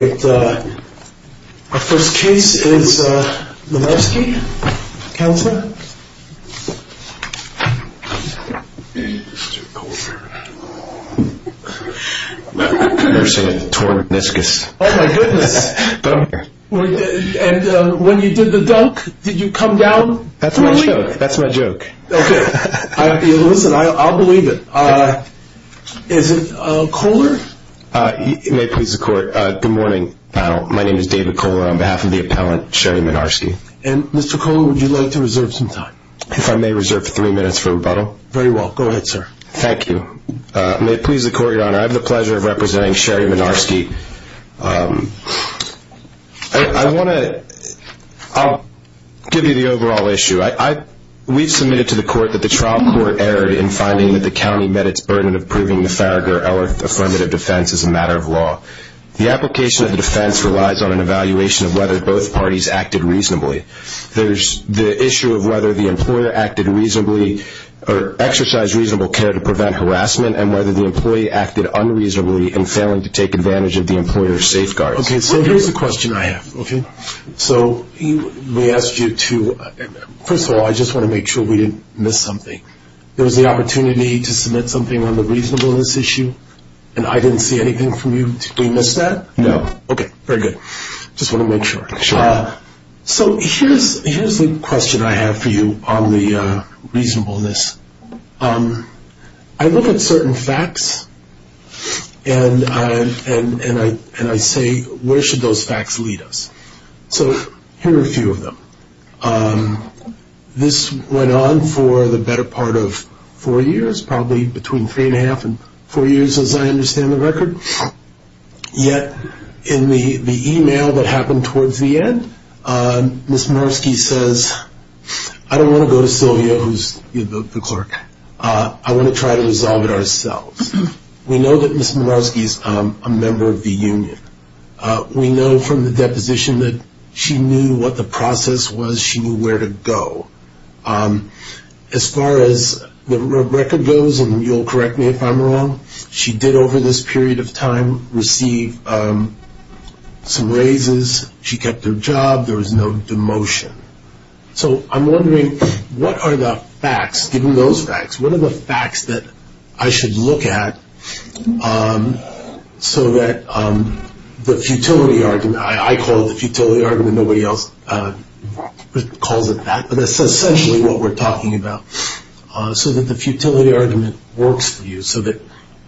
Our first case is Marnarsky, Counselor? I've never seen a torn meniscus. Oh my goodness. And when you did the dunk, did you come down fully? That's my joke, that's my joke. Okay, listen, I'll believe it. Is it cooler? May it please the court, good morning panel. My name is David Kohler on behalf of the appellant, Sherry Marnarsky. And Mr. Kohler, would you like to reserve some time? If I may reserve three minutes for rebuttal. Very well, go ahead sir. Thank you. May it please the court, your honor, I have the pleasure of representing Sherry Marnarsky. I want to, I'll give you the overall issue. We've submitted to the court that the trial court erred in finding that the county met its burden of proving the Farragher-Ellert affirmative defense as a matter of law. The application of the defense relies on an evaluation of whether both parties acted reasonably. There's the issue of whether the employer acted reasonably, or exercised reasonable care to prevent harassment, and whether the employee acted unreasonably in failing to take advantage of the employer's safeguards. Okay, so here's the question I have, okay. So we asked you to, first of all, I just want to make sure we didn't miss something. There was the opportunity to submit something on the reasonableness issue, and I didn't see anything from you. Did we miss that? No. Okay, very good. Just want to make sure. Sure. So here's the question I have for you on the reasonableness. I look at certain facts, and I say, where should those facts lead us? So here are a few of them. This went on for the better part of four years, probably between three and a half and four years as I understand the record. Yet in the e-mail that happened towards the end, Ms. Minarski says, I don't want to go to Sylvia, who's the clerk. I want to try to resolve it ourselves. We know that Ms. Minarski is a member of the union. We know from the deposition that she knew what the process was. She knew where to go. As far as the record goes, and you'll correct me if I'm wrong, she did over this period of time receive some raises. She kept her job. There was no demotion. So I'm wondering what are the facts, given those facts, what are the facts that I should look at so that the futility argument, I call it the futility argument, nobody else calls it that, but that's essentially what we're talking about, so that the futility argument works for you, so that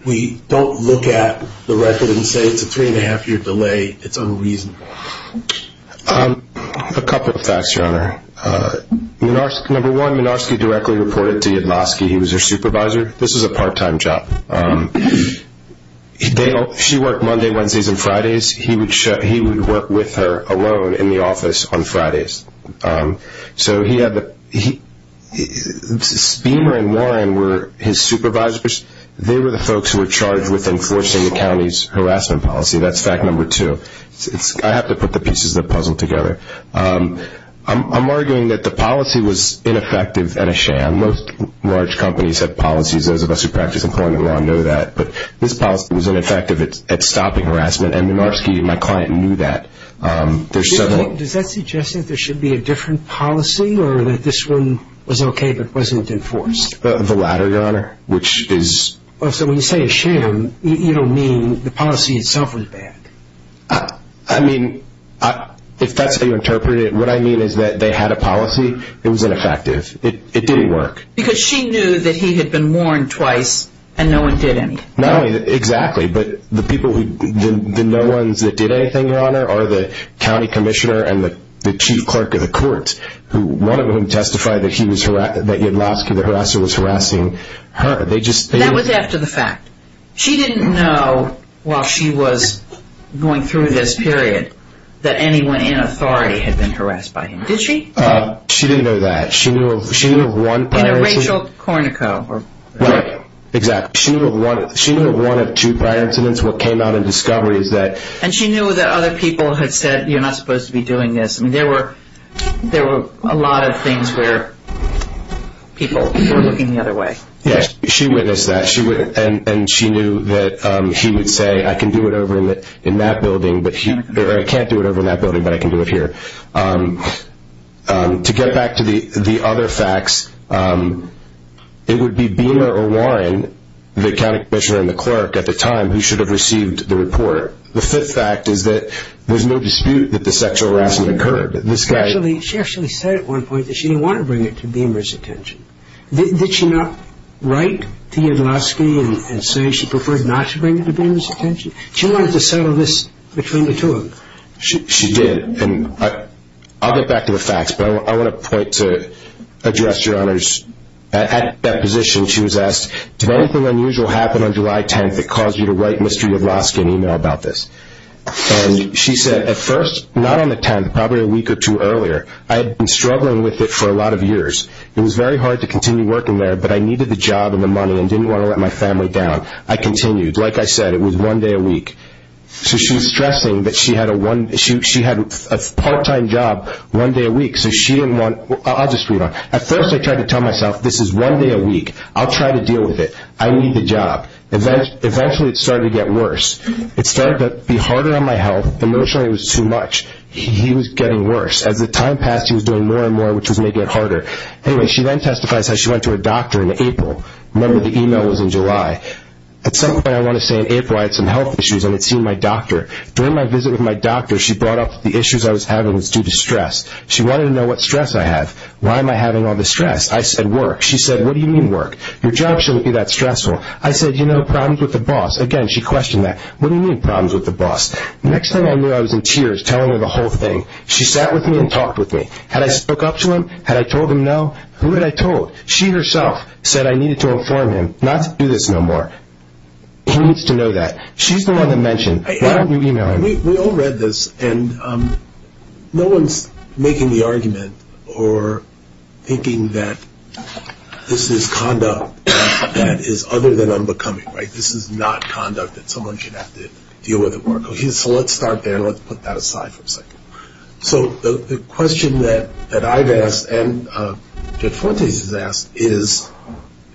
we don't look at the record and say it's a three and a half year delay. It's unreasonable. A couple of facts, Your Honor. Number one, Minarski directly reported to Yudlowsky. He was her supervisor. This is a part-time job. She worked Monday, Wednesdays, and Fridays. He would work with her alone in the office on Fridays. So Speemer and Warren were his supervisors. They were the folks who were charged with enforcing the county's harassment policy. That's fact number two. I have to put the pieces of the puzzle together. I'm arguing that the policy was ineffective and a sham. Most large companies have policies. Those of us who practice employment law know that. But this policy was ineffective at stopping harassment, and Minarski, my client, knew that. Does that suggest that there should be a different policy or that this one was okay but wasn't enforced? The latter, Your Honor. So when you say a sham, you don't mean the policy itself was bad? I mean, if that's how you interpret it, what I mean is that they had a policy. It was ineffective. It didn't work. Because she knew that he had been warned twice and no one did anything. Exactly. But the no ones that did anything, Your Honor, are the county commissioner and the chief clerk of the court, one of whom testified that Yadlovski, the harasser, was harassing her. That was after the fact. She didn't know while she was going through this period that anyone in authority had been harassed by him, did she? She didn't know that. Rachel Cornico. Right. Exactly. She knew of one of two prior incidents. What came out in discovery is that... And she knew that other people had said, you're not supposed to be doing this. There were a lot of things where people were looking the other way. Yes, she witnessed that, and she knew that he would say, I can do it over in that building, or I can't do it over in that building, but I can do it here. To get back to the other facts, it would be Beamer or Warren, the county commissioner and the clerk at the time, who should have received the report. The fifth fact is that there's no dispute that the sexual harassment occurred. She actually said at one point that she didn't want to bring it to Beamer's attention. Did she not write to Yadlovski and say she preferred not to bring it to Beamer's attention? She wanted to settle this between the two of them. She did. I'll get back to the facts, but I want to point to address your honors. At that position, she was asked, did anything unusual happen on July 10th that caused you to write Mr. Yadlovski an email about this? And she said, at first, not on the 10th, probably a week or two earlier, I had been struggling with it for a lot of years. It was very hard to continue working there, but I needed the job and the money and didn't want to let my family down. I continued. Like I said, it was one day a week. So she's stressing that she had a part-time job one day a week. I'll just read on. At first, I tried to tell myself, this is one day a week. I'll try to deal with it. I need the job. Eventually, it started to get worse. It started to be harder on my health. Emotionally, it was too much. He was getting worse. As the time passed, he was doing more and more, which was making it harder. Anyway, she then testifies how she went to her doctor in April. Remember, the email was in July. At some point, I want to say in April, I had some health issues, and I had seen my doctor. During my visit with my doctor, she brought up the issues I was having was due to stress. She wanted to know what stress I had. Why am I having all this stress? I said, work. She said, what do you mean work? Your job shouldn't be that stressful. I said, you know, problems with the boss. Again, she questioned that. What do you mean problems with the boss? Next thing I knew, I was in tears telling her the whole thing. She sat with me and talked with me. Had I spoke up to him? Had I told him no? Who had I told? She herself said I needed to inform him not to do this no more. He needs to know that. She's the one that mentioned. Why don't you email him? We all read this, and no one's making the argument or thinking that this is conduct that is other than unbecoming, right? This is not conduct that someone should have to deal with at work. So the question that I've asked and Jeff Fortes has asked is,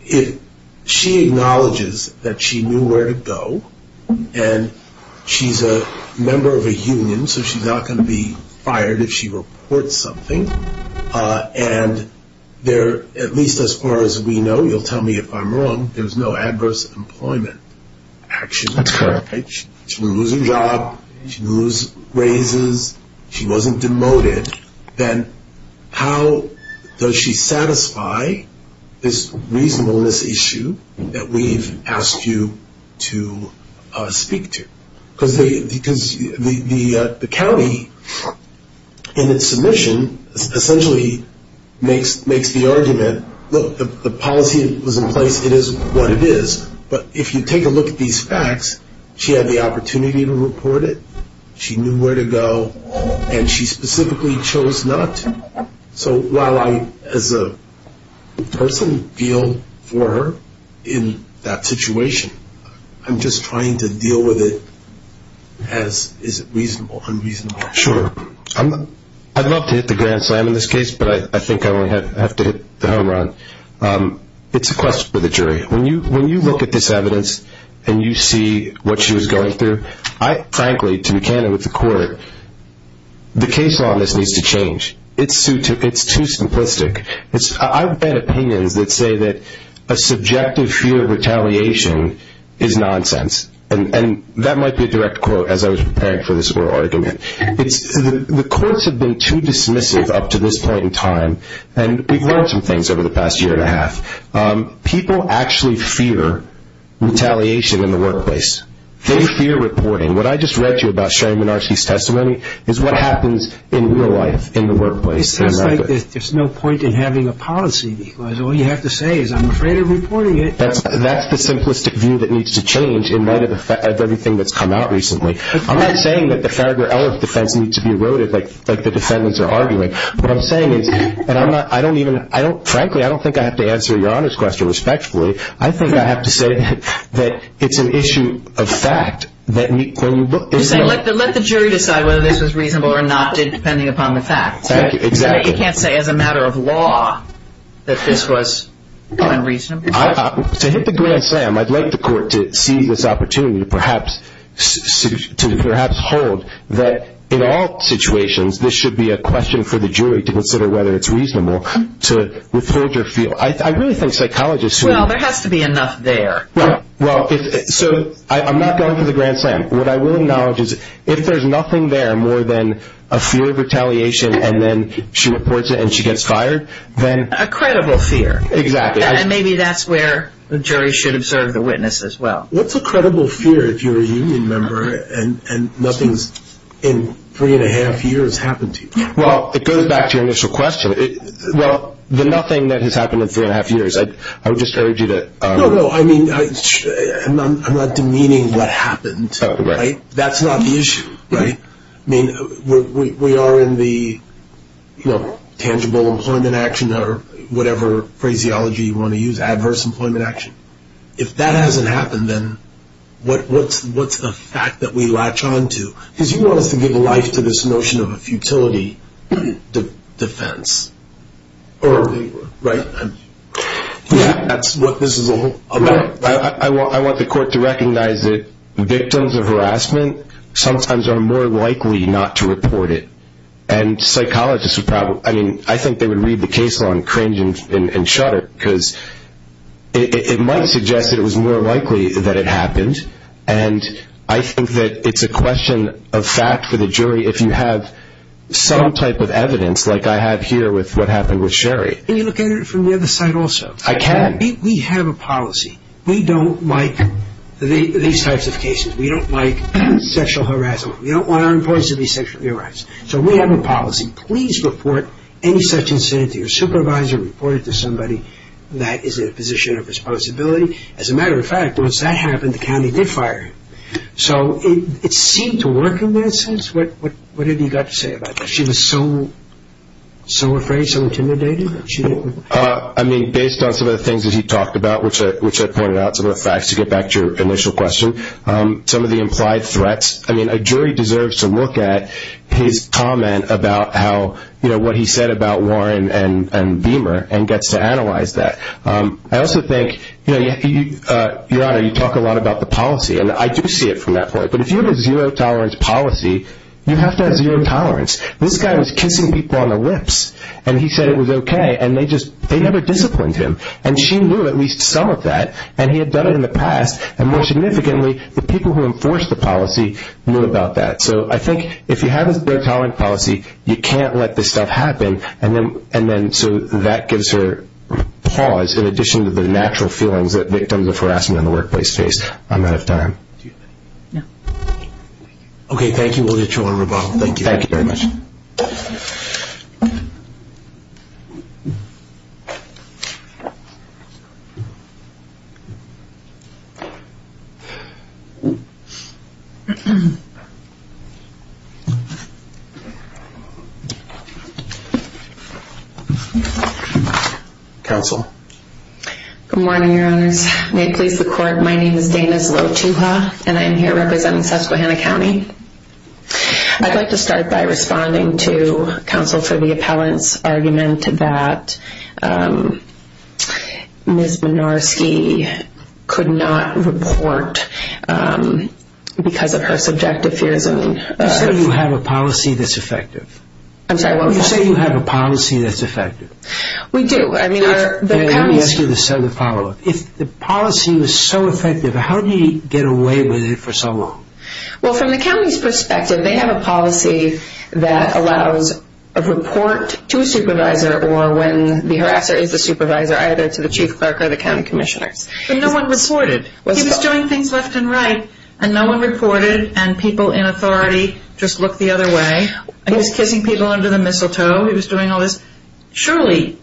if she acknowledges that she knew where to go, and she's a member of a union, so she's not going to be fired if she reports something, and at least as far as we know, you'll tell me if I'm wrong, That's correct. She will lose her job. She loses raises. She wasn't demoted. Then how does she satisfy this reasonableness issue that we've asked you to speak to? Because the county in its submission essentially makes the argument, look, the policy that was in place, it is what it is. But if you take a look at these facts, she had the opportunity to report it. She knew where to go, and she specifically chose not to. So while I, as a person, feel for her in that situation, I'm just trying to deal with it as is it reasonable, unreasonable. Sure. I'd love to hit the grand slam in this case, but I think I only have to hit the home run. It's a question for the jury. When you look at this evidence and you see what she was going through, I frankly, to be candid with the court, the case law on this needs to change. It's too simplistic. I've had opinions that say that a subjective fear of retaliation is nonsense, and that might be a direct quote as I was preparing for this oral argument. The courts have been too dismissive up to this point in time, and we've learned some things over the past year and a half. People actually fear retaliation in the workplace. They fear reporting. What I just read to you about Sharon Minarchy's testimony is what happens in real life in the workplace. It sounds like there's no point in having a policy because all you have to say is, I'm afraid of reporting it. That's the simplistic view that needs to change in light of everything that's come out recently. I'm not saying that the Farragher-Ellis defense needs to be eroded like the defendants are arguing. Frankly, I don't think I have to answer Your Honor's question respectfully. I think I have to say that it's an issue of fact. Let the jury decide whether this was reasonable or not, depending upon the facts. Exactly. You can't say as a matter of law that this was unreasonable. To hit the green slam, I'd like the court to seize this opportunity to perhaps hold that in all situations, this should be a question for the jury to consider whether it's reasonable to withhold your feel. I really think psychologists who Well, there has to be enough there. Well, so I'm not going for the green slam. What I will acknowledge is if there's nothing there more than a fear of retaliation and then she reports it and she gets fired, then A credible fear. Exactly. And maybe that's where the jury should observe the witness as well. What's a credible fear if you're a union member and nothing's in three and a half years happened to you? Well, it goes back to your initial question. Well, the nothing that has happened in three and a half years, I would just urge you to No, no. I mean, I'm not demeaning what happened. Right. That's not the issue. Right. I mean, we are in the tangible employment action or whatever phraseology you want to use, adverse employment action. I mean, if that hasn't happened, then what's the fact that we latch on to? Because you want us to give life to this notion of a futility defense. Right. That's what this is all about. I want the court to recognize that victims of harassment sometimes are more likely not to report it. And psychologists would probably, I mean, I think they would read the case law and cringe and shudder because it might suggest that it was more likely that it happened. And I think that it's a question of fact for the jury if you have some type of evidence like I have here with what happened with Sherry. Can you look at it from the other side also? I can. We have a policy. We don't like these types of cases. We don't like sexual harassment. We don't want our employees to be sexually harassed. So we have a policy. Please report any such incident to your supervisor, report it to somebody that is in a position of responsibility. As a matter of fact, once that happened, the county did fire him. So it seemed to work in that sense. What have you got to say about that? She was so afraid, so intimidated. I mean, based on some of the things that he talked about, which I pointed out, some of the facts, to get back to your initial question, some of the implied threats. I mean, a jury deserves to look at his comment about what he said about Warren and Beamer and gets to analyze that. I also think, Your Honor, you talk a lot about the policy, and I do see it from that point. But if you have a zero-tolerance policy, you have to have zero tolerance. This guy was kissing people on the lips, and he said it was okay, and they never disciplined him. And she knew at least some of that, and he had done it in the past. And more significantly, the people who enforced the policy knew about that. So I think if you have a zero-tolerance policy, you can't let this stuff happen, and then so that gives her pause in addition to the natural feelings that victims of harassment in the workplace face. I'm out of time. Okay, thank you. Thank you very much. Counsel. Yes, may it please the Court. My name is Dana Zlotuha, and I'm here representing Susquehanna County. I'd like to start by responding to counsel for the appellant's argument that Ms. Minarski could not report because of her subjective fears. You said you have a policy that's effective. I'm sorry, what? You said you have a policy that's effective. We do. Let me ask you the follow-up. If the policy was so effective, how do you get away with it for so long? Well, from the county's perspective, they have a policy that allows a report to a supervisor or when the harasser is the supervisor, either to the chief clerk or the county commissioners. But no one reported. He was doing things left and right, and no one reported, and people in authority just looked the other way. He was kissing people under the mistletoe. He was doing all this. Surely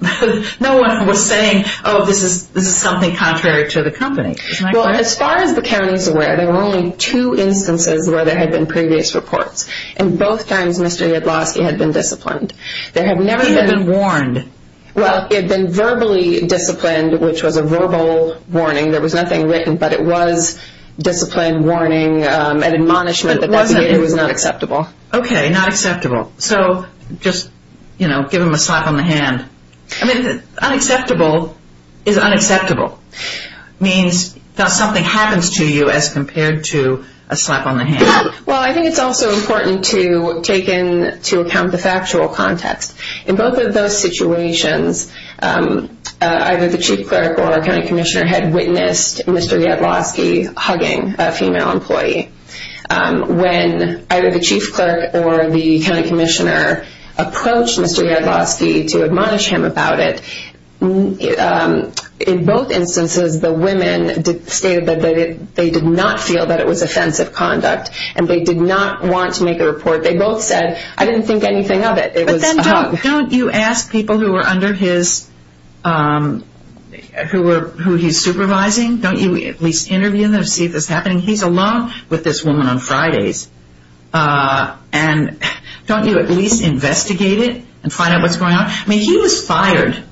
no one was saying, oh, this is something contrary to the company. Well, as far as the county is aware, there were only two instances where there had been previous reports, and both times Mr. Yadlowski had been disciplined. He had been warned. Well, he had been verbally disciplined, which was a verbal warning. There was nothing written, but it was discipline, warning, an admonishment that was not acceptable. Okay, not acceptable. So just, you know, give him a slap on the hand. I mean, unacceptable is unacceptable. It means that something happens to you as compared to a slap on the hand. Well, I think it's also important to take into account the factual context. In both of those situations, either the chief clerk or a county commissioner had witnessed Mr. Yadlowski hugging a female employee. When either the chief clerk or the county commissioner approached Mr. Yadlowski to admonish him about it, in both instances the women stated that they did not feel that it was offensive conduct and they did not want to make a report. They both said, I didn't think anything of it. But then don't you ask people who were under his, who he's supervising, don't you at least interview them, see if it's happening? He's alone with this woman on Fridays. And don't you at least investigate it and find out what's going on? I mean, he was fired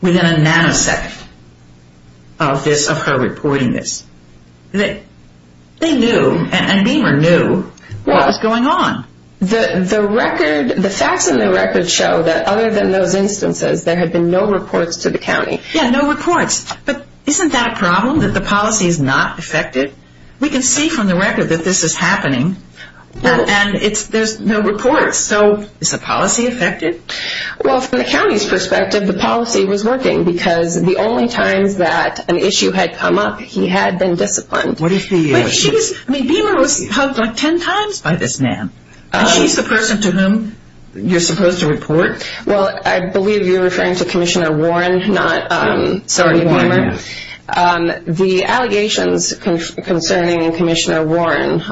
within a nanosecond of this, of her reporting this. They knew, and Beamer knew what was going on. The record, the facts in the record show that other than those instances, there had been no reports to the county. Yeah, no reports. But isn't that a problem, that the policy is not effective? We can see from the record that this is happening, and there's no reports. So is the policy effective? Well, from the county's perspective, the policy was working because the only times that an issue had come up, he had been disciplined. What if he was? I mean, Beamer was hugged like ten times by this man, and she's the person to whom you're supposed to report? Well, I believe you're referring to Commissioner Warren, not Sergeant Beamer. The allegations concerning Commissioner Warren,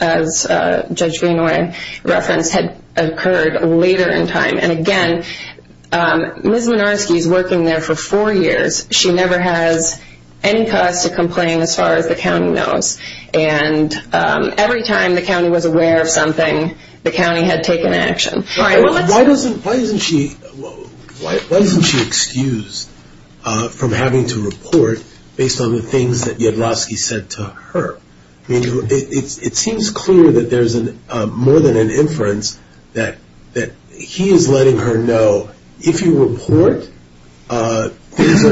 as Judge Greenway referenced, had occurred later in time. And again, Ms. Minarski is working there for four years. She never has any cause to complain, as far as the county knows. And every time the county was aware of something, the county had taken action. Why isn't she excused from having to report based on the things that Yadlovsky said to her? It seems clear that there's more than an inference that he is letting her know, if you report, things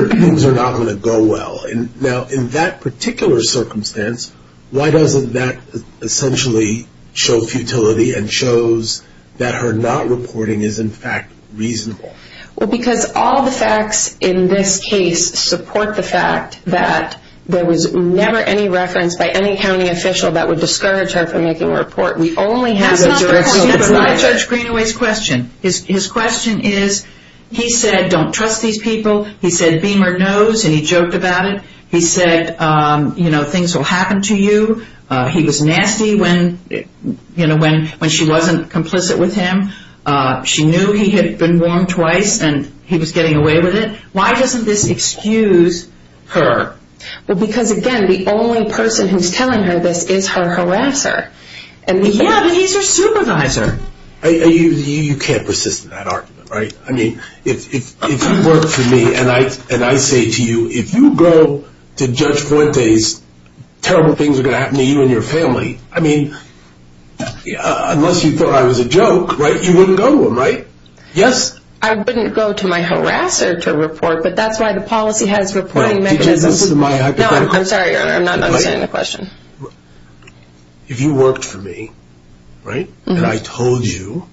are not going to go well. Now, in that particular circumstance, why doesn't that essentially show futility and shows that her not reporting is, in fact, reasonable? Well, because all the facts in this case support the fact that there was never any reference by any county official that would discourage her from making a report. We only have the direction that's right. That's not Judge Greenway's question. His question is, he said, don't trust these people. He said, Beamer knows, and he joked about it. He said, you know, things will happen to you. He was nasty when she wasn't complicit with him. She knew he had been wrong twice, and he was getting away with it. Why doesn't this excuse her? Well, because, again, the only person who's telling her this is her harasser. Yeah, but he's her supervisor. You can't persist in that argument, right? I mean, if you work for me and I say to you, if you go to Judge Fuentes, terrible things are going to happen to you and your family. I mean, unless you thought I was a joke, right, you wouldn't go to him, right? Yes. I wouldn't go to my harasser to report, but that's why the policy has reporting mechanisms. Wait, did you listen to my hypothetical? No, I'm sorry, Your Honor, I'm not understanding the question. If you worked for me, right, and I told you,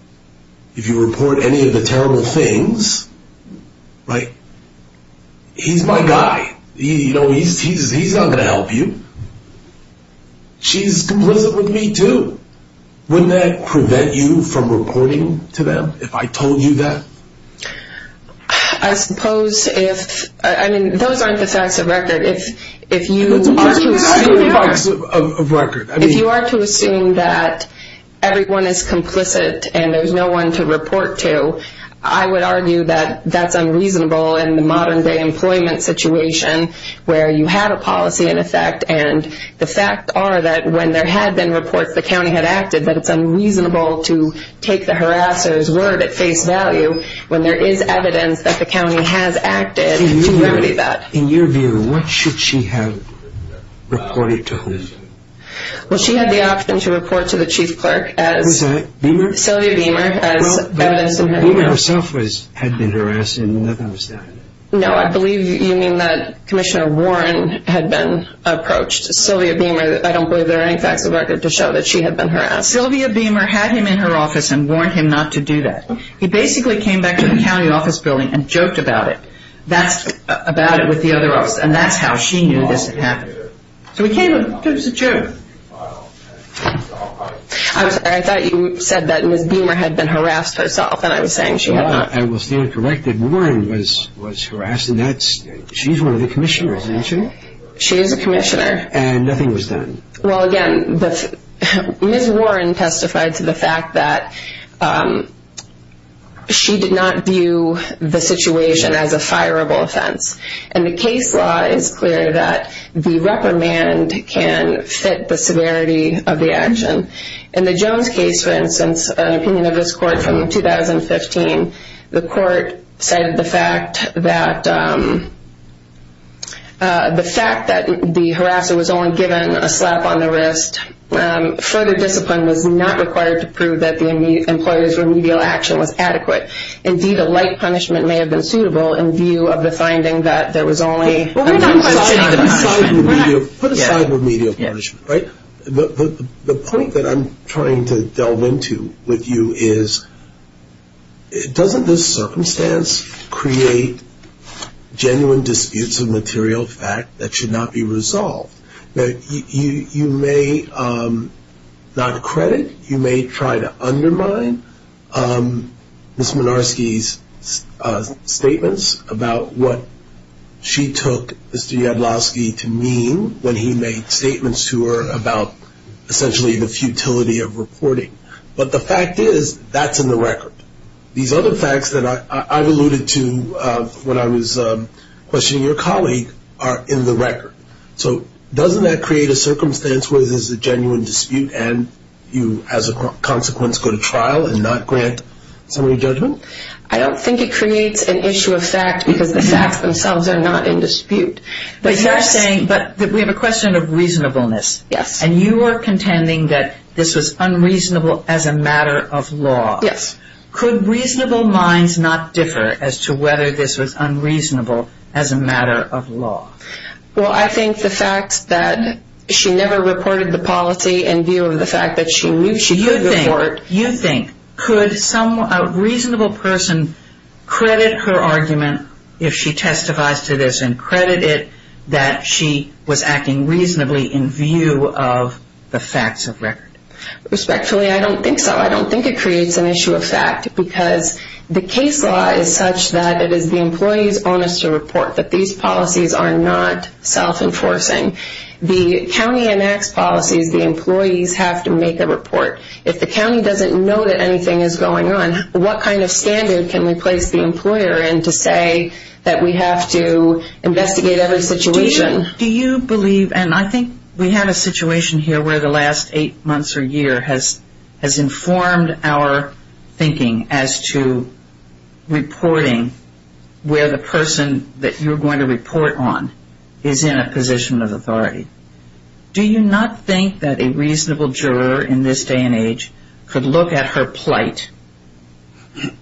if you report any of the terrible things, right, he's my guy, you know, he's not going to help you. She's complicit with me, too. Wouldn't that prevent you from reporting to them if I told you that? I suppose if, I mean, those aren't the facts of record. If you are to assume that everyone is complicit and there's no one to report to, I would argue that that's unreasonable in the modern-day employment situation where you have a policy in effect and the fact are that when there had been reports, the county had acted, that it's unreasonable to take the harasser's word at face value when there is evidence that the county has acted to remedy that. In your view, what should she have reported to whom? Well, she had the option to report to the chief clerk as Sylvia Beamer. Sylvia Beamer herself had been harassed and nothing was done. No, I believe you mean that Commissioner Warren had been approached. Sylvia Beamer, I don't believe there are any facts of record to show that she had been harassed. Sylvia Beamer had him in her office and warned him not to do that. He basically came back to the county office building and joked about it, about it with the other officers, and that's how she knew this had happened. So he came and it was a joke. I'm sorry, I thought you said that Ms. Beamer had been harassed herself and I was saying she had not. I will stand corrected. Warren was harassed. She's one of the commissioners, isn't she? She is a commissioner. And nothing was done. Well, again, Ms. Warren testified to the fact that she did not view the situation as a fireable offense. And the case law is clear that the reprimand can fit the severity of the action. In the Jones case, for instance, an opinion of this court from 2015, the court said the fact that the harasser was only given a slap on the wrist, further discipline was not required to prove that the employer's remedial action was adequate. Indeed, a light punishment may have been suitable in view of the finding that there was only... Put aside remedial punishment, right? The point that I'm trying to delve into with you is, doesn't this circumstance create genuine disputes of material fact that should not be resolved? You may not credit, you may try to undermine Ms. Minarski's statements about what she took Mr. Yadlovski to mean when he made statements to her about essentially the futility of reporting. But the fact is, that's in the record. These other facts that I've alluded to when I was questioning your colleague are in the record. So doesn't that create a circumstance where there's a genuine dispute and you, as a consequence, go to trial and not grant summary judgment? I don't think it creates an issue of fact because the facts themselves are not in dispute. But you're saying that we have a question of reasonableness. Yes. And you are contending that this was unreasonable as a matter of law. Yes. Could reasonable minds not differ as to whether this was unreasonable as a matter of law? Well, I think the fact that she never reported the policy in view of the fact that she knew she could report. You think, could a reasonable person credit her argument if she testifies to this and credit it that she was acting reasonably in view of the facts of record? Respectfully, I don't think so. I don't think it creates an issue of fact because the case law is such that it is the employee's onus to report that these policies are not self-enforcing. The county enacts policies, the employees have to make a report. If the county doesn't know that anything is going on, what kind of standard can we place the employer in to say that we have to investigate every situation? Do you believe, and I think we have a situation here where the last eight months or year has informed our thinking as to reporting where the person that you're going to report on is in a position of authority. Do you not think that a reasonable juror in this day and age could look at her plight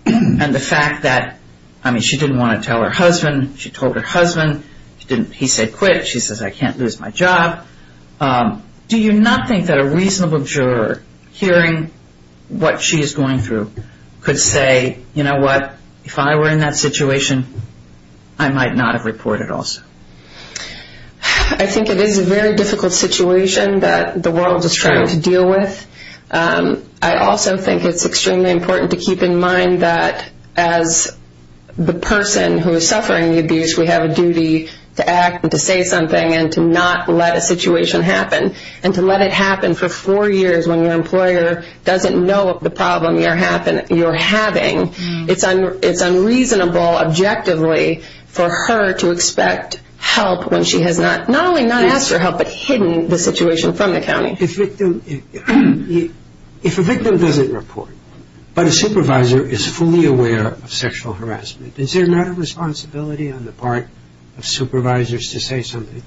and the fact that, I mean, she didn't want to tell her husband, she told her husband, he said quit, she says I can't lose my job. Do you not think that a reasonable juror hearing what she is going through could say, you know what, if I were in that situation, I might not have reported also? I think it is a very difficult situation that the world is trying to deal with. I also think it's extremely important to keep in mind that as the person who is suffering the abuse, we have a duty to act and to say something and to not let a situation happen. And to let it happen for four years when your employer doesn't know the problem you're having, it's unreasonable objectively for her to expect help when she has not, not only not asked for help, but hidden the situation from the county. If a victim doesn't report, but a supervisor is fully aware of sexual harassment, is there not a responsibility on the part of supervisors to say something?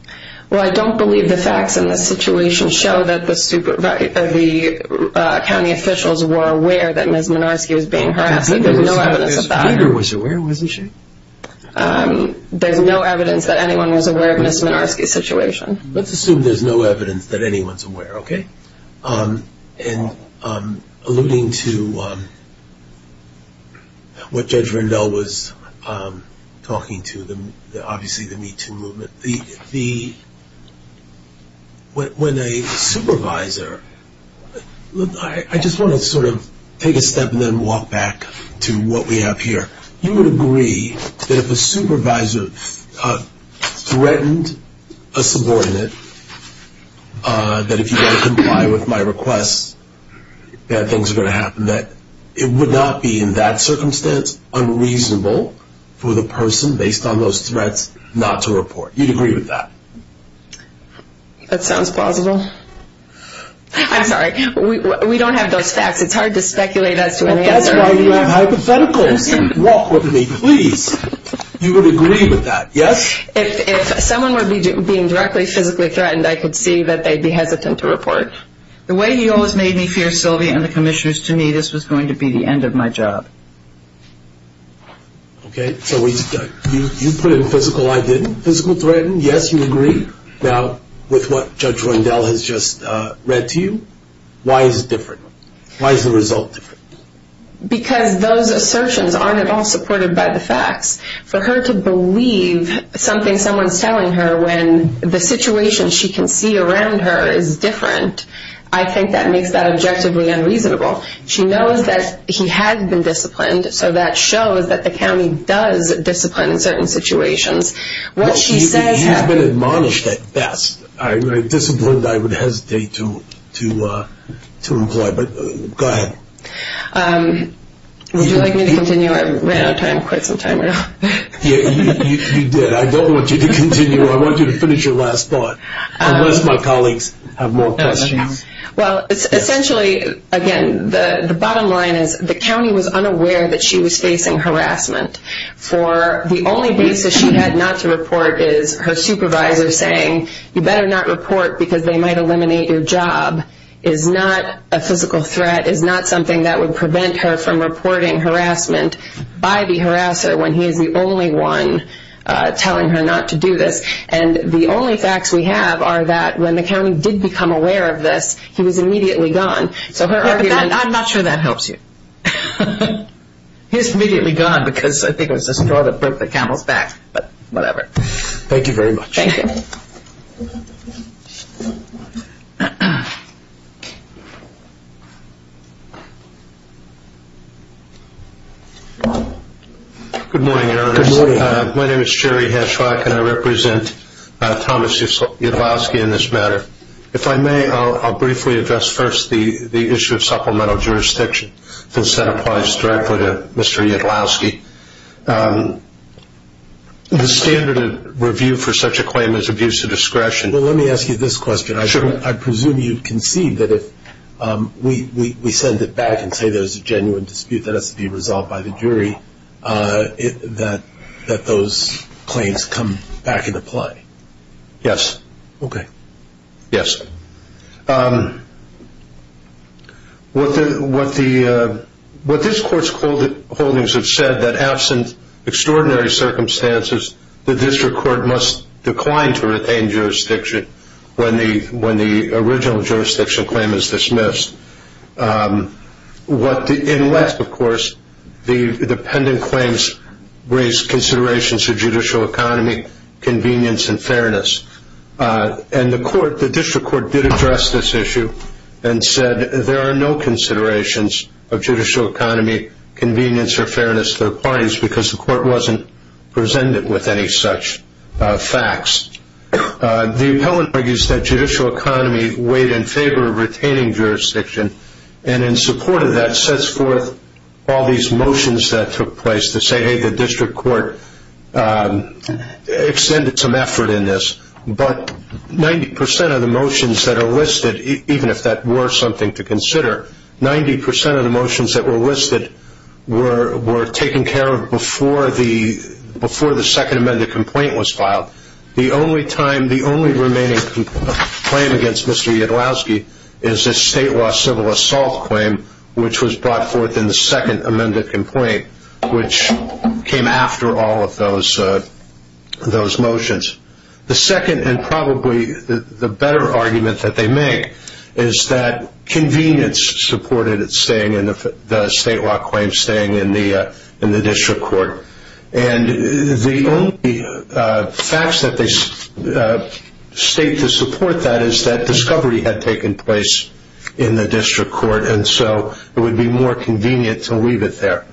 Well, I don't believe the facts in this situation show that the county officials were aware that Ms. Minarski was being harassed. There's no evidence of that. Peter was aware, wasn't she? There's no evidence that anyone was aware of Ms. Minarski's situation. Let's assume there's no evidence that anyone is aware, okay? And alluding to what Judge Rendell was talking to, obviously the MeToo movement, when a supervisor, I just want to sort of take a step and then walk back to what we have here. You would agree that if a supervisor threatened a subordinate that if you don't comply with my requests, bad things are going to happen, that it would not be in that circumstance unreasonable for the person, based on those threats, not to report. You'd agree with that? That sounds plausible. I'm sorry. We don't have those facts. It's hard to speculate as to an answer. That's why you have hypotheticals. Walk with me, please. You would agree with that, yes? If someone were being directly physically threatened, I could see that they'd be hesitant to report. The way he always made me fear Sylvia and the commissioners, to me, this was going to be the end of my job. Okay, so you put in physical, I didn't, physical threaten. Yes, you agree. Now, with what Judge Wendell has just read to you, why is it different? Why is the result different? Because those assertions aren't at all supported by the facts. For her to believe something someone's telling her when the situation she can see around her is different, I think that makes that objectively unreasonable. She knows that he has been disciplined, so that shows that the county does discipline in certain situations. What she says happens. You've been admonished at best. Disciplined, I would hesitate to employ, but go ahead. Would you like me to continue? I ran out of time, quit some time ago. You did. I don't want you to continue. I want you to finish your last thought, unless my colleagues have more questions. Well, essentially, again, the bottom line is the county was unaware that she was facing harassment for the only basis she had not to report is her supervisor saying, you better not report because they might eliminate your job, is not a physical threat, is not something that would prevent her from reporting harassment by the harasser when he is the only one telling her not to do this. And the only facts we have are that when the county did become aware of this, he was immediately gone. I'm not sure that helps you. He was immediately gone because I think it was a straw that broke the camel's back, but whatever. Thank you very much. Thank you. Good morning, Ernest. Good morning. My name is Jerry Heschweck, and I represent Thomas Yudlowsky in this matter. If I may, I'll briefly address first the issue of supplemental jurisdiction, since that applies directly to Mr. Yudlowsky. The standard of review for such a claim is abuse of discretion. Well, let me ask you this question. Sure. I presume you concede that if we send it back and say there's a genuine dispute that has to be resolved by the jury, that those claims come back into play. Yes. Okay. Yes. What this court's holdings have said that absent extraordinary circumstances, the district court must decline to retain jurisdiction when the original jurisdiction claim is dismissed. In less, of course, the pending claims raise considerations of judicial economy, convenience, and fairness. And the court, the district court, did address this issue and said there are no considerations of judicial economy, convenience, or fairness to the parties because the court wasn't presented with any such facts. The appellant argues that judicial economy weighed in favor of retaining jurisdiction and in support of that sets forth all these motions that took place to say, hey, the district court extended some effort in this. But 90% of the motions that are listed, even if that were something to consider, 90% of the motions that were listed were taken care of before the second amended complaint was filed. The only time, the only remaining claim against Mr. Yudlowsky is a state law civil assault claim, which was brought forth in the second amended complaint, which came after all of those motions. The second, and probably the better argument that they make, is that convenience supported the state law claim staying in the district court. And the only facts that they state to support that is that discovery had taken place in the district court, and so it would be more convenient to leave it there.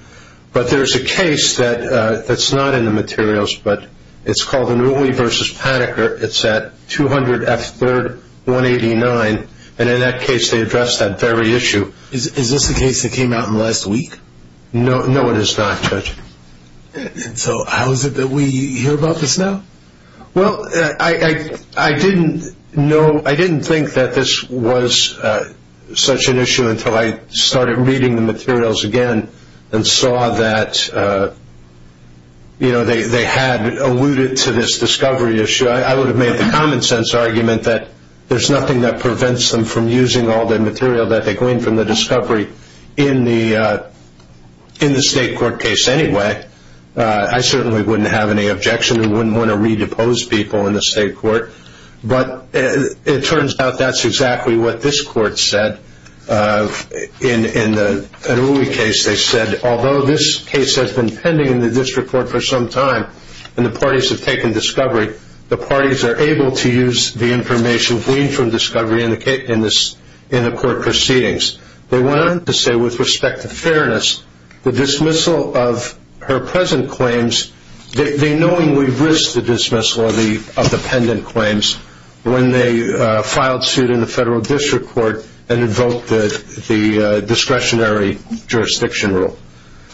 But there's a case that's not in the materials, but it's called Inouye v. Paniker. It's at 200 F. 3rd, 189, and in that case they addressed that very issue. Is this a case that came out in the last week? No, it is not, Judge. And so how is it that we hear about this now? Well, I didn't know, I didn't think that this was such an issue until I started reading the materials again and saw that, you know, they had alluded to this discovery issue. I would have made the common sense argument that there's nothing that prevents them from using all the material that they gleaned from the discovery in the state court case anyway. I certainly wouldn't have any objection. We wouldn't want to re-depose people in the state court. But it turns out that's exactly what this court said in the Inouye case. They said, although this case has been pending in the district court for some time and the parties have taken discovery, the parties are able to use the information gleaned from discovery in the court proceedings. They went on to say, with respect to fairness, the dismissal of her present claims, they knowingly risked the dismissal of the pendant claims when they filed suit in the federal district court and invoked the discretionary jurisdiction rule.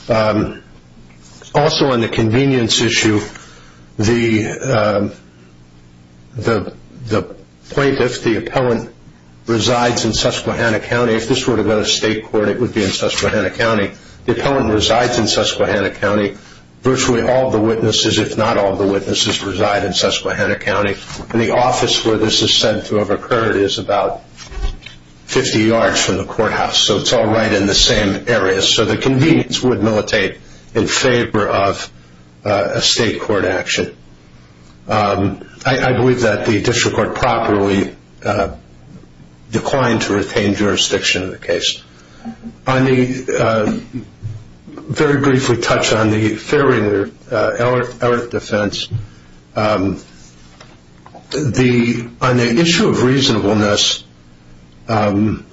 Also on the convenience issue, the plaintiff, the appellant, resides in Susquehanna County. If this were to go to state court, it would be in Susquehanna County. The appellant resides in Susquehanna County. Virtually all the witnesses, if not all the witnesses, reside in Susquehanna County. And the office where this is said to have occurred is about 50 yards from the courthouse. So it's all right in the same area. So the convenience would militate in favor of a state court action. I believe that the district court properly declined to retain jurisdiction of the case. I'll very briefly touch on the fairing of the alert defense. On the issue of reasonableness, the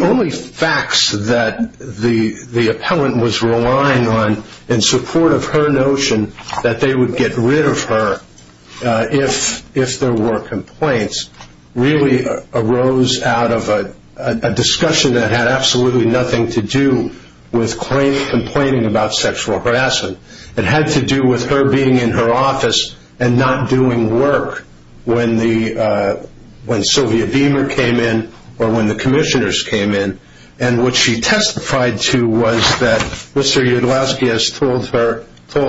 only facts that the appellant was relying on in support of her notion that they would get rid of her if there were complaints really arose out of a discussion that had absolutely nothing to do with complaining about sexual harassment. It had to do with her being in her office and not doing work when Sylvia Beamer came in or when the commissioners came in. And what she testified to was that Mr. Yudlowsky has told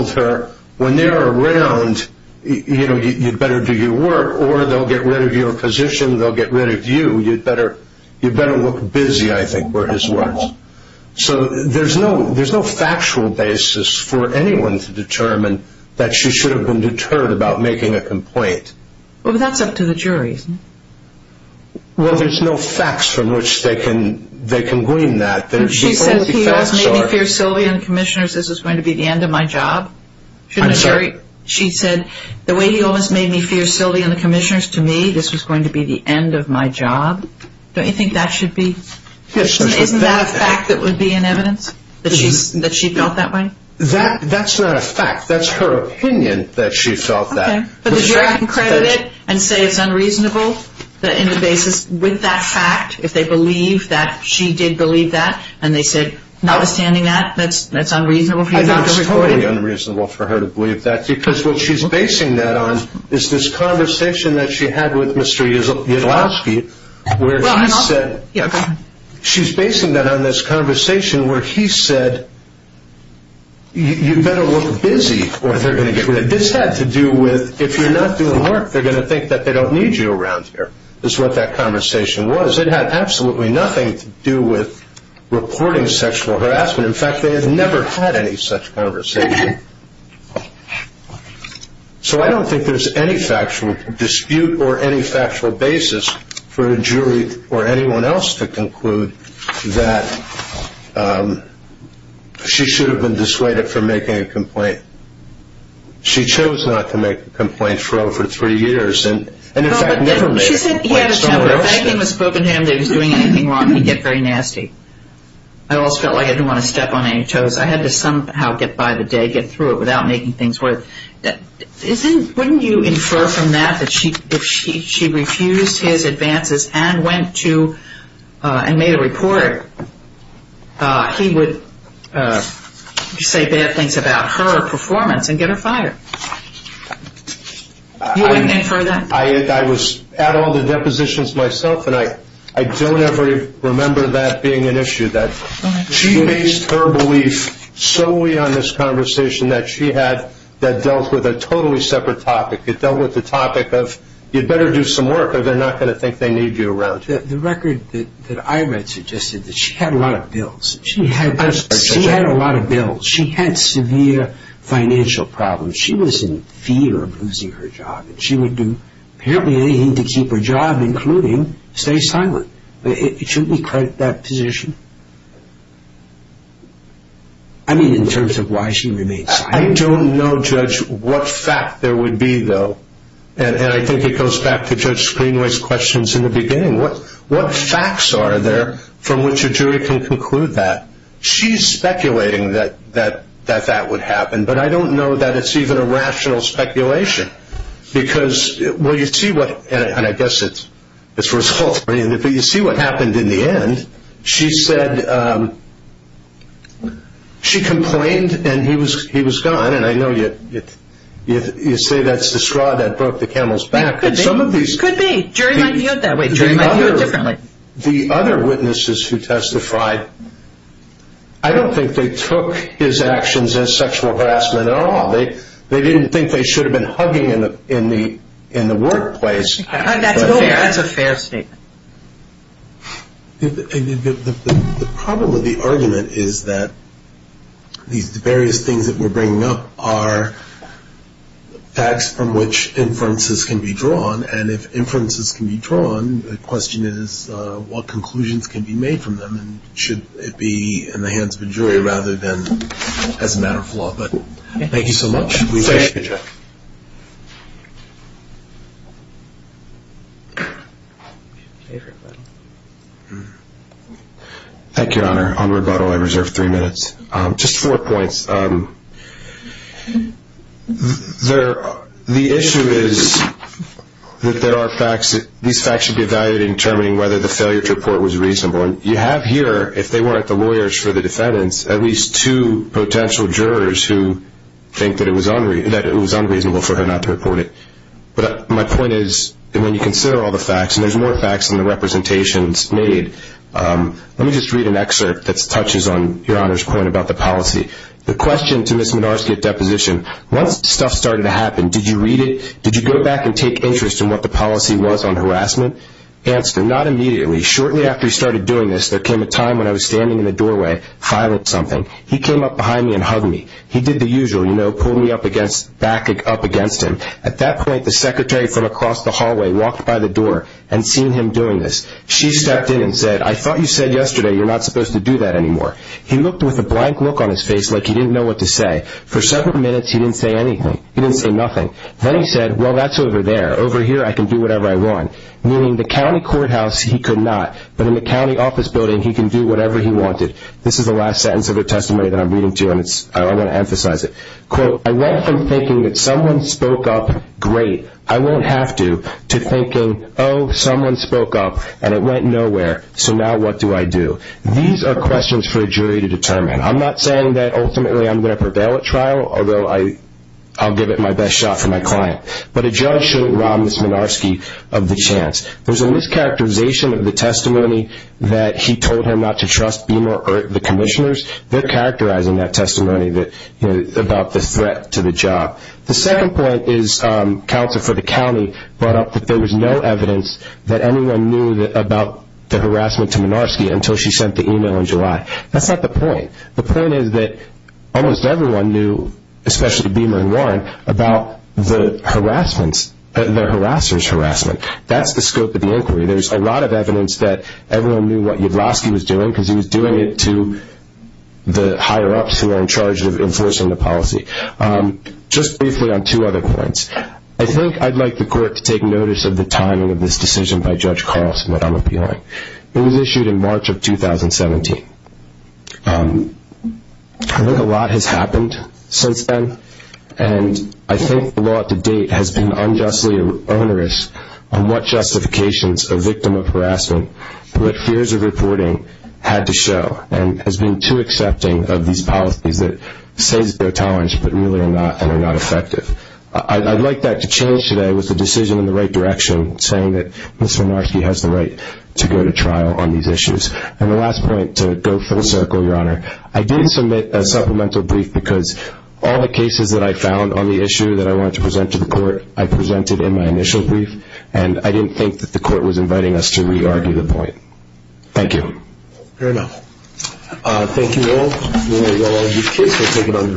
her, when they're around, you'd better do your work or they'll get rid of your position. They'll get rid of you. You'd better look busy, I think were his words. So there's no factual basis for anyone to determine that she should have been deterred about making a complaint. Well, that's up to the jury, isn't it? Well, there's no facts from which they can glean that. She said, he always made me fear Sylvia and the commissioners, this is going to be the end of my job. I'm sorry? She said, the way he always made me fear Sylvia and the commissioners, to me, this was going to be the end of my job. Don't you think that should be? Isn't that a fact that would be in evidence? That she felt that way? That's not a fact. That's her opinion that she felt that. But the jury can credit it and say it's unreasonable in the basis with that fact, if they believe that she did believe that and they said, notwithstanding that, that's unreasonable. I think it's totally unreasonable for her to believe that because what she's basing that on is this conversation that she had with Mr. Yudlowsky where he said she's basing that on this conversation where he said, you better look busy or they're going to get rid of you. This had to do with, if you're not doing work, they're going to think that they don't need you around here, is what that conversation was. It had absolutely nothing to do with reporting sexual harassment. In fact, they have never had any such conversation. So I don't think there's any factual dispute or any factual basis for a jury or anyone else to conclude that she should have been dissuaded from making a complaint. She chose not to make a complaint for over three years and, in fact, never made a complaint. If anything was spoken to him that he was doing anything wrong, he'd get very nasty. I also felt like I didn't want to step on any toes. I had to somehow get by the day, get through it without making things worse. Wouldn't you infer from that that if she refused his advances and went to and made a report, he would say bad things about her performance and get her fired? You wouldn't infer that? I was at all the depositions myself, and I don't ever remember that being an issue, that she based her belief solely on this conversation that she had that dealt with a totally separate topic. It dealt with the topic of you'd better do some work or they're not going to think they need you around here. The record that I read suggested that she had a lot of bills. She had a lot of bills. She had severe financial problems. She was in fear of losing her job. She would do apparently anything to keep her job, including stay silent. Shouldn't we credit that position? I mean in terms of why she remained silent. I don't know, Judge, what fact there would be, though, and I think it goes back to Judge Screenway's questions in the beginning. What facts are there from which a jury can conclude that? She's speculating that that would happen, but I don't know that it's even a rational speculation. You see what happened in the end. She said she complained and he was gone, and I know you say that's the straw that broke the camel's back. It could be. Jury might view it that way. Jury might view it differently. The other witnesses who testified, I don't think they took his actions as sexual harassment at all. They didn't think they should have been hugging in the workplace. That's a fair statement. The problem with the argument is that these various things that we're bringing up are facts from which inferences can be drawn, and if inferences can be drawn, the question is what conclusions can be made from them, and should it be in the hands of a jury rather than as a matter of law. Thank you so much. Thank you, Jeff. Thank you, Your Honor. On rebuttal, I reserve three minutes. Just four points. The issue is that these facts should be evaluated in determining whether the failure to report was reasonable, and you have here, if they weren't the lawyers for the defendants, at least two potential jurors who think that it was unreasonable for her not to report it. But my point is that when you consider all the facts, and there's more facts than the representations made, let me just read an excerpt that touches on Your Honor's point about the policy. The question to Ms. Minarski at deposition, once stuff started to happen, did you read it? Did you go back and take interest in what the policy was on harassment? Answer, not immediately. Shortly after he started doing this, there came a time when I was standing in the doorway filing something. He came up behind me and hugged me. He did the usual, you know, pulled me back up against him. At that point, the secretary from across the hallway walked by the door and seen him doing this. She stepped in and said, I thought you said yesterday you're not supposed to do that anymore. He looked with a blank look on his face like he didn't know what to say. For several minutes, he didn't say anything. He didn't say nothing. Then he said, well, that's over there. Over here, I can do whatever I want. Meaning the county courthouse, he could not. But in the county office building, he can do whatever he wanted. This is the last sentence of her testimony that I'm reading to you, and I want to emphasize it. Quote, I went from thinking that someone spoke up, great, I won't have to, to thinking, oh, someone spoke up, and it went nowhere. So now what do I do? These are questions for a jury to determine. I'm not saying that ultimately I'm going to prevail at trial, although I'll give it my best shot for my client. But a judge shouldn't rob Ms. Minarski of the chance. There's a mischaracterization of the testimony that he told her not to trust Beamer or the commissioners. They're characterizing that testimony about the threat to the job. The second point is counsel for the county brought up that there was no evidence that anyone knew about the harassment to Minarski until she sent the email in July. That's not the point. The point is that almost everyone knew, especially Beamer and Warren, about the harassment, the harasser's harassment. That's the scope of the inquiry. There's a lot of evidence that everyone knew what Yudlowski was doing because he was doing it to the higher-ups who were in charge of enforcing the policy. Just briefly on two other points. I think I'd like the court to take notice of the timing of this decision by Judge Carlson that I'm appealing. It was issued in March of 2017. I think a lot has happened since then, and I think the law to date has been unjustly onerous on what justifications a victim of harassment, what fears of reporting had to show, and has been too accepting of these policies that say they're tolerant, but really are not and are not effective. I'd like that to change today with the decision in the right direction saying that Ms. Minarski has the right to go to trial on these issues. And the last point to go full circle, Your Honor. I did submit a supplemental brief because all the cases that I found on the issue that I wanted to present to the court, I presented in my initial brief, and I didn't think that the court was inviting us to re-argue the point. Thank you. Fair enough. Thank you all. We'll allow you to take your case.